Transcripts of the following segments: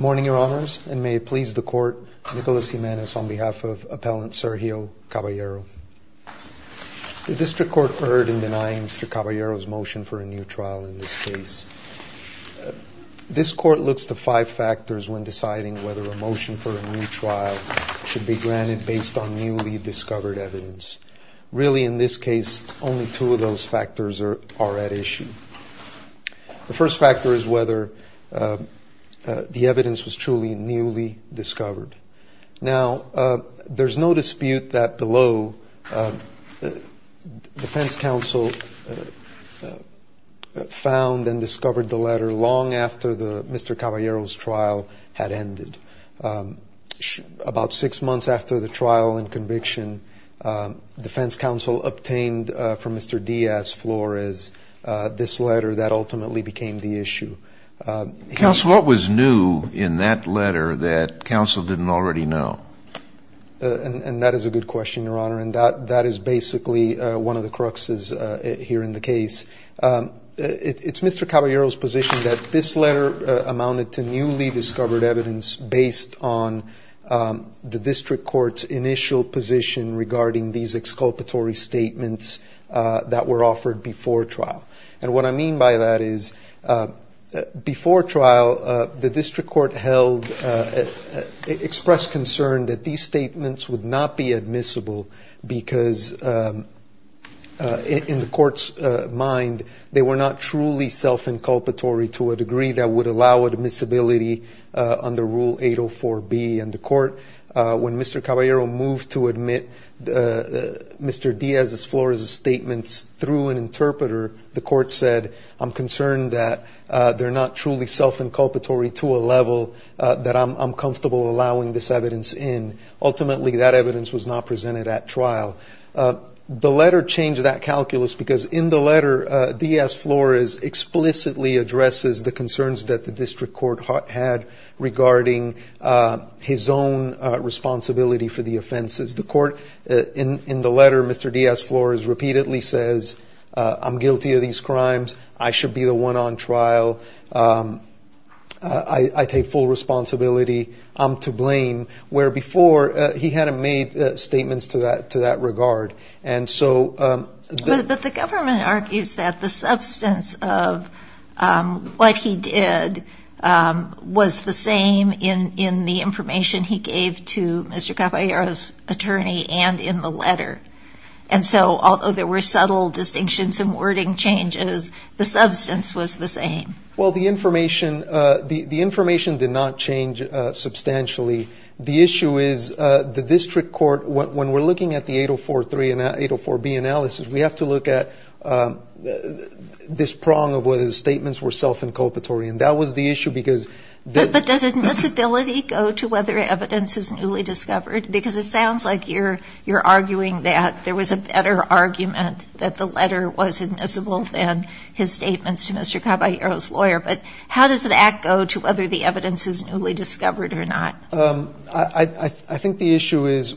The District Court heard in denying Mr. Caballero's motion for a new trial in this case. This court looks to five factors when deciding whether a motion for a new trial should be granted based on newly discovered evidence. Really, in this case, only two of those factors are at issue. The first factor is whether the evidence was truly newly discovered. Now, there's no dispute that below, the defense counsel found and discovered the letter long after Mr. Caballero's trial had ended. About six months after the trial and conviction, defense counsel obtained from Mr. Diaz-Flores this letter that ultimately became the issue. Counsel, what was new in that letter that counsel didn't already know? And that is a good question, Your Honor, and that is basically one of the cruxes here in the case. It's Mr. Caballero's position that this letter amounted to newly discovered evidence based on the District Court's initial position regarding these exculpatory statements that were offered before trial. And what I mean by that is, before trial, the District Court expressed concern that these statements would not be admissible because, in the court's mind, they were not truly self-inculpatory to a degree that would allow admissibility under Rule 804B. And the court, when Mr. Caballero moved to admit Mr. Diaz-Flores' statements through an interpreter, the court said, I'm concerned that they're not truly self-inculpatory to a level that I'm comfortable allowing this evidence in. Ultimately, that evidence was not presented at trial. The letter changed that calculus because, in the letter, Diaz-Flores explicitly addresses the concerns that the District Court had regarding his own responsibility for the offenses. The court, in the letter, Mr. Diaz-Flores repeatedly says, I'm guilty of these crimes, I should be the one on trial, I take full responsibility, I'm to blame, where before, he hadn't made statements to that regard. But the government argues that the substance of what he did was the same in the information he gave to Mr. Caballero's attorney and in the letter. And so, although there were subtle distinctions and wording changes, the substance was the same. Well, the information, the information did not change substantially. The issue is, the District Court, when we're looking at the 804B analysis, we have to look at this prong of whether the statements were self-inculpatory. And that was the issue because... But does admissibility go to whether evidence is newly discovered? Because it sounds like you're arguing that there was a better argument that the letter was admissible than his statements to Mr. Caballero's lawyer. But how does that go to whether the evidence is newly discovered or not? I think the issue is,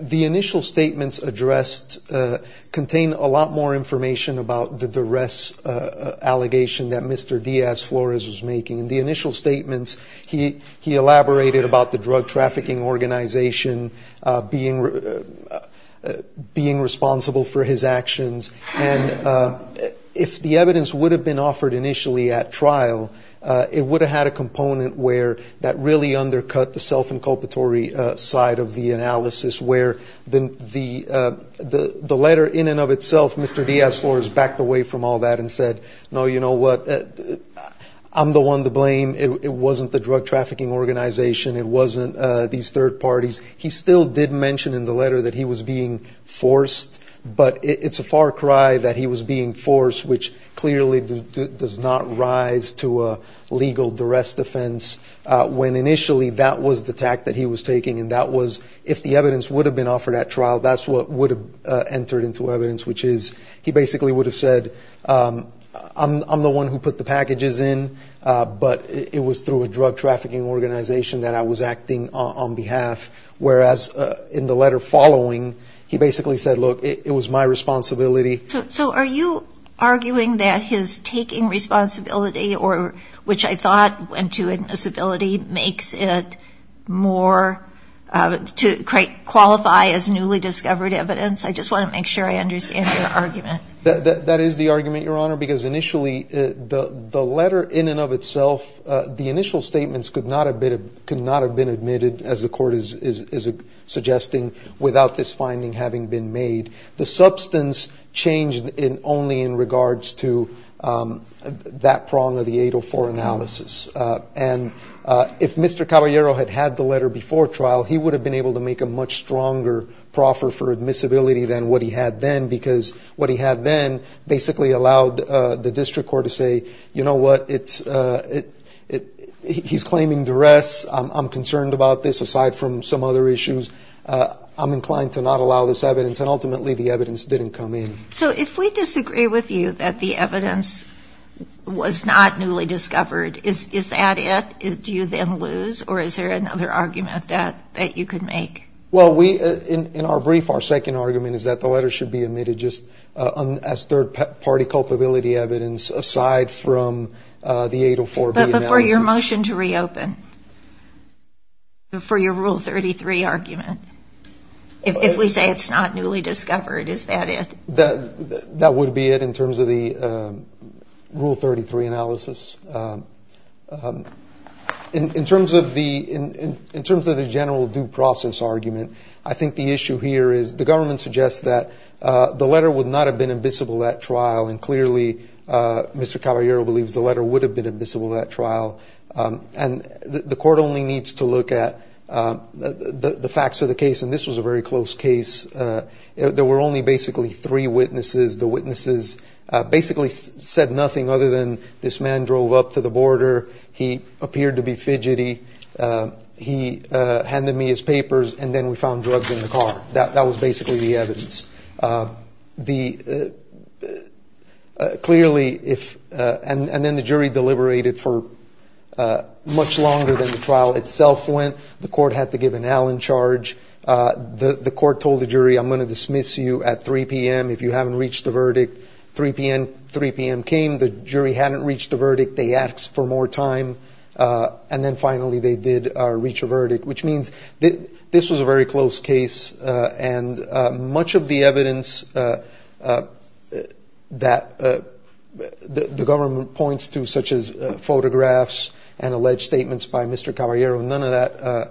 the initial statements addressed contain a lot more information about the duress allegation that Mr. Diaz-Flores was making. In the initial statements, he elaborated about the drug trafficking organization being responsible for his actions. And if the evidence would have been offered initially at trial, it would have had a component where that really undercut the self-inculpatory side of the analysis, where the letter in and of itself, Mr. Diaz-Flores backed away from all that and said, no, you know what, I'm the one to blame. It wasn't the drug trafficking organization. It wasn't these third parties. He still did mention in the letter that he was being forced. But it's a far cry that he was being forced, which clearly does not rise to a legal duress defense, when initially that was the tact that he was taking, and that was, if the evidence would have been offered at trial, that's what would have entered into evidence, which is, he basically would have said, I'm the one who put the packages in, but it was through a drug trafficking organization that I was acting on behalf. Whereas in the letter following, he basically said, look, it was my responsibility. So are you arguing that his taking responsibility, which I thought went to admissibility, makes it more to qualify as newly discovered evidence? I just want to make sure I understand your argument. That is the argument, Your Honor, because initially the letter in and of itself, the initial statements could not have been admitted, as the court is suggesting, without this finding having been made. The substance changed only in regards to that prong of the 804 analysis. And if Mr. Caballero had had the letter before trial, he would have been able to make a much stronger proffer for admissibility than what he had then, because what he had then basically allowed the district court to say, you know what, he's claiming duress, I'm concerned about this, aside from some other issues, I'm inclined to not allow this evidence. And ultimately the evidence didn't come in. So if we disagree with you that the evidence was not newly discovered, is that it? Do you then lose? Or is there another argument that you could make? Well, in our brief, our second argument is that the letter should be admitted just as third-party culpability evidence, aside from the 804B analysis. But before your motion to reopen, before your Rule 33 argument, if we say it's not newly discovered, is that it? That would be it in terms of the Rule 33 analysis. In terms of the general due process argument, I think the issue here is the government suggests that the letter would not have been admissible at trial, and clearly Mr. Caballero believes the letter would have been admissible at trial. And the court only needs to look at the facts of the case. And this was a very close case. There were only basically three witnesses. The witnesses basically said nothing other than this man drove up to the border, he appeared to be fidgety, he handed me his papers, and then we found drugs in the car. That was basically the evidence. Clearly, and then the jury deliberated for much longer than the trial itself went. The court had to give an Allen charge. The court told the jury, I'm going to dismiss you at 3 p.m. If you haven't reached a verdict, 3 p.m. came. The jury hadn't reached a verdict. They asked for more time. And then finally they did reach a verdict, which means this was a very close case. And much of the evidence that the government points to, such as photographs and alleged statements by Mr. Caballero, none of that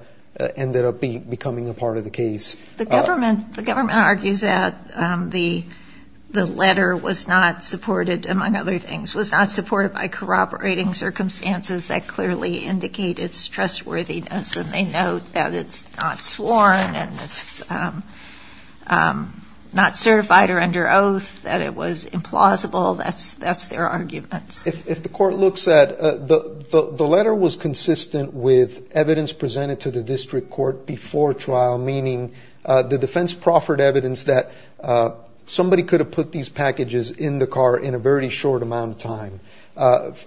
ended up becoming a part of the case. The government argues that the letter was not supported, among other things, was not supported by corroborating circumstances that clearly indicated its trustworthiness. And they note that it's not sworn and it's not certified or under oath, that it was implausible. That's their argument. If the court looks at it, the letter was consistent with evidence presented to the district court before trial, meaning the defense proffered evidence that somebody could have put these packages in the car in a very short amount of time.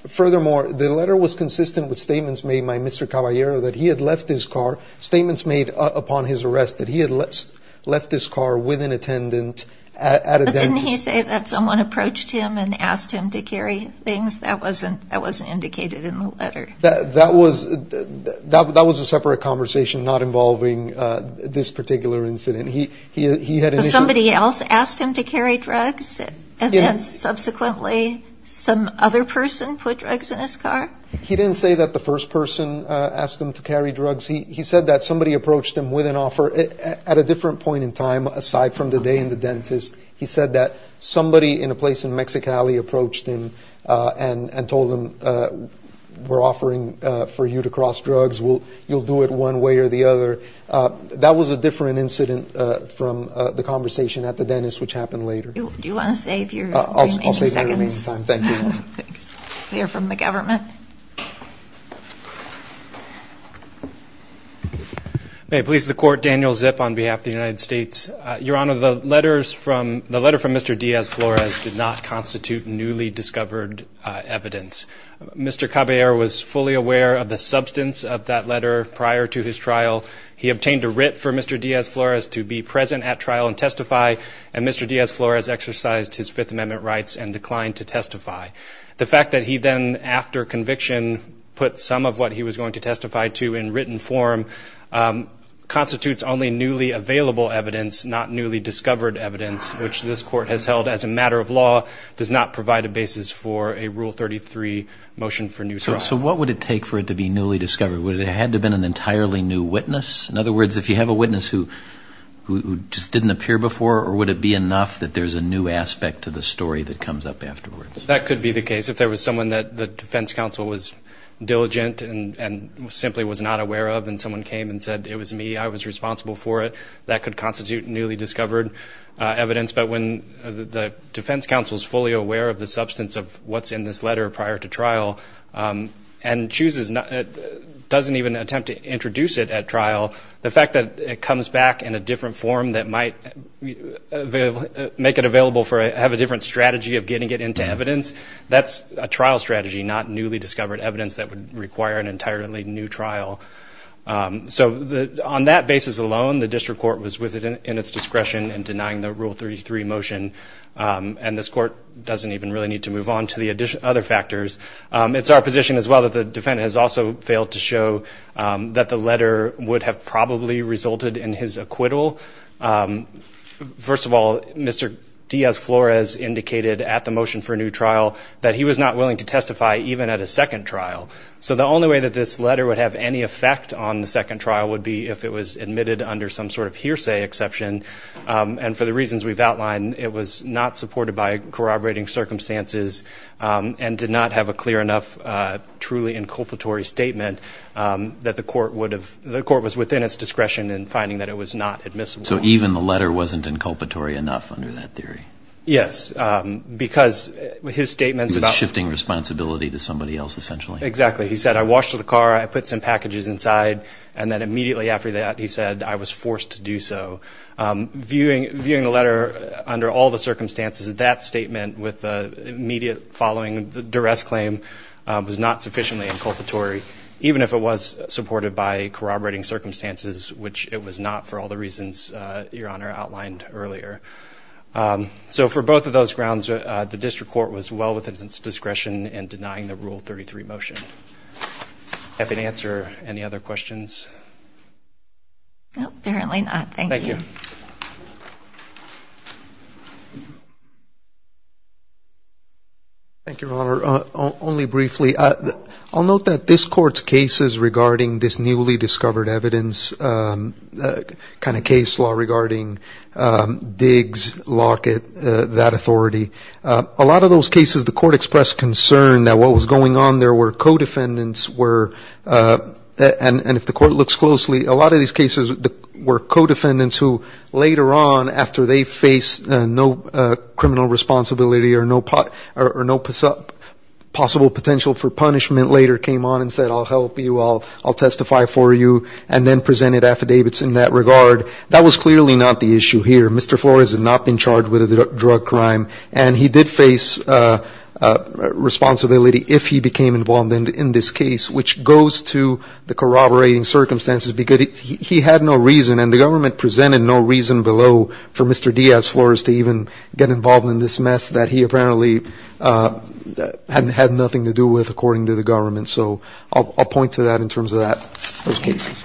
Furthermore, the letter was consistent with statements made by Mr. Caballero that he had left his car, statements made upon his arrest that he had left his car with an attendant at a dentist. But didn't he say that someone approached him and asked him to carry things? That wasn't indicated in the letter. That was a separate conversation not involving this particular incident. Somebody else asked him to carry drugs and then subsequently some other person put drugs in his car? He didn't say that the first person asked him to carry drugs. He said that somebody approached him with an offer at a different point in time, aside from the day in the dentist. He said that somebody in a place in Mexicali approached him and told him, we're offering for you to cross drugs, you'll do it one way or the other. That was a different incident from the conversation at the dentist, which happened later. Do you want to save your remaining seconds? I'll save my remaining time, thank you. Clear from the government. May it please the Court, Daniel Zip on behalf of the United States. Your Honor, the letter from Mr. Diaz-Flores did not constitute newly discovered evidence. Mr. Caballero was fully aware of the substance of that letter prior to his trial. He obtained a writ for Mr. Diaz-Flores to be present at trial and testify, and Mr. Diaz-Flores exercised his Fifth Amendment rights and declined to testify. The fact that he then, after conviction, put some of what he was going to testify to in written form, constitutes only newly available evidence, not newly discovered evidence, which this Court has held as a matter of law, does not provide a basis for a Rule 33 motion for new trial. So what would it take for it to be newly discovered? Would it have to have been an entirely new witness? In other words, if you have a witness who just didn't appear before, or would it be enough that there's a new aspect to the story that comes up afterwards? That could be the case. If there was someone that the defense counsel was diligent and simply was not aware of and someone came and said, it was me, I was responsible for it, that could constitute newly discovered evidence. But when the defense counsel is fully aware of the substance of what's in this letter prior to trial and doesn't even attempt to introduce it at trial, the fact that it comes back in a different form that might make it available for it, have a different strategy of getting it into evidence, that's a trial strategy, not newly discovered evidence that would require an entirely new trial. So on that basis alone, the district court was within its discretion in denying the Rule 33 motion, and this court doesn't even really need to move on to the other factors. It's our position as well that the defendant has also failed to show that the letter would have probably resulted in his acquittal. First of all, Mr. Diaz-Flores indicated at the motion for a new trial that he was not willing to testify even at a second trial. So the only way that this letter would have any effect on the second trial would be if it was admitted under some sort of hearsay exception. And for the reasons we've outlined, it was not supported by corroborating circumstances and did not have a clear enough, truly inculpatory statement that the court would have – the court was within its discretion in finding that it was not admissible. So even the letter wasn't inculpatory enough under that theory? Yes, because his statements about – He was shifting responsibility to somebody else essentially? Exactly. He said, I washed the car, I put some packages inside, and then immediately after that he said, I was forced to do so. Viewing the letter under all the circumstances, that statement with the immediate following duress claim was not sufficiently inculpatory, even if it was supported by corroborating circumstances, which it was not for all the reasons Your Honor outlined earlier. So for both of those grounds, the district court was well within its discretion in denying the Rule 33 motion. Happy to answer any other questions? No, apparently not. Thank you. Thank you. Thank you, Your Honor. Only briefly, I'll note that this Court's cases regarding this newly discovered evidence kind of case law regarding Diggs, Lockett, that authority, a lot of those cases the Court expressed concern that what was going on there where co-defendants were – and if the Court looks closely, a lot of these cases were co-defendants who later on, after they faced no criminal responsibility or no possible potential for punishment, later came on and said, I'll help you, I'll testify for you, and then presented affidavits in that regard. That was clearly not the issue here. Mr. Flores had not been charged with a drug crime, and he did face responsibility if he became involved in this case, which goes to the corroborating circumstances because he had no reason, and the government presented no reason below for Mr. Diaz-Flores to even get involved in this mess that he apparently had nothing to do with, according to the government. So I'll point to that in terms of those cases.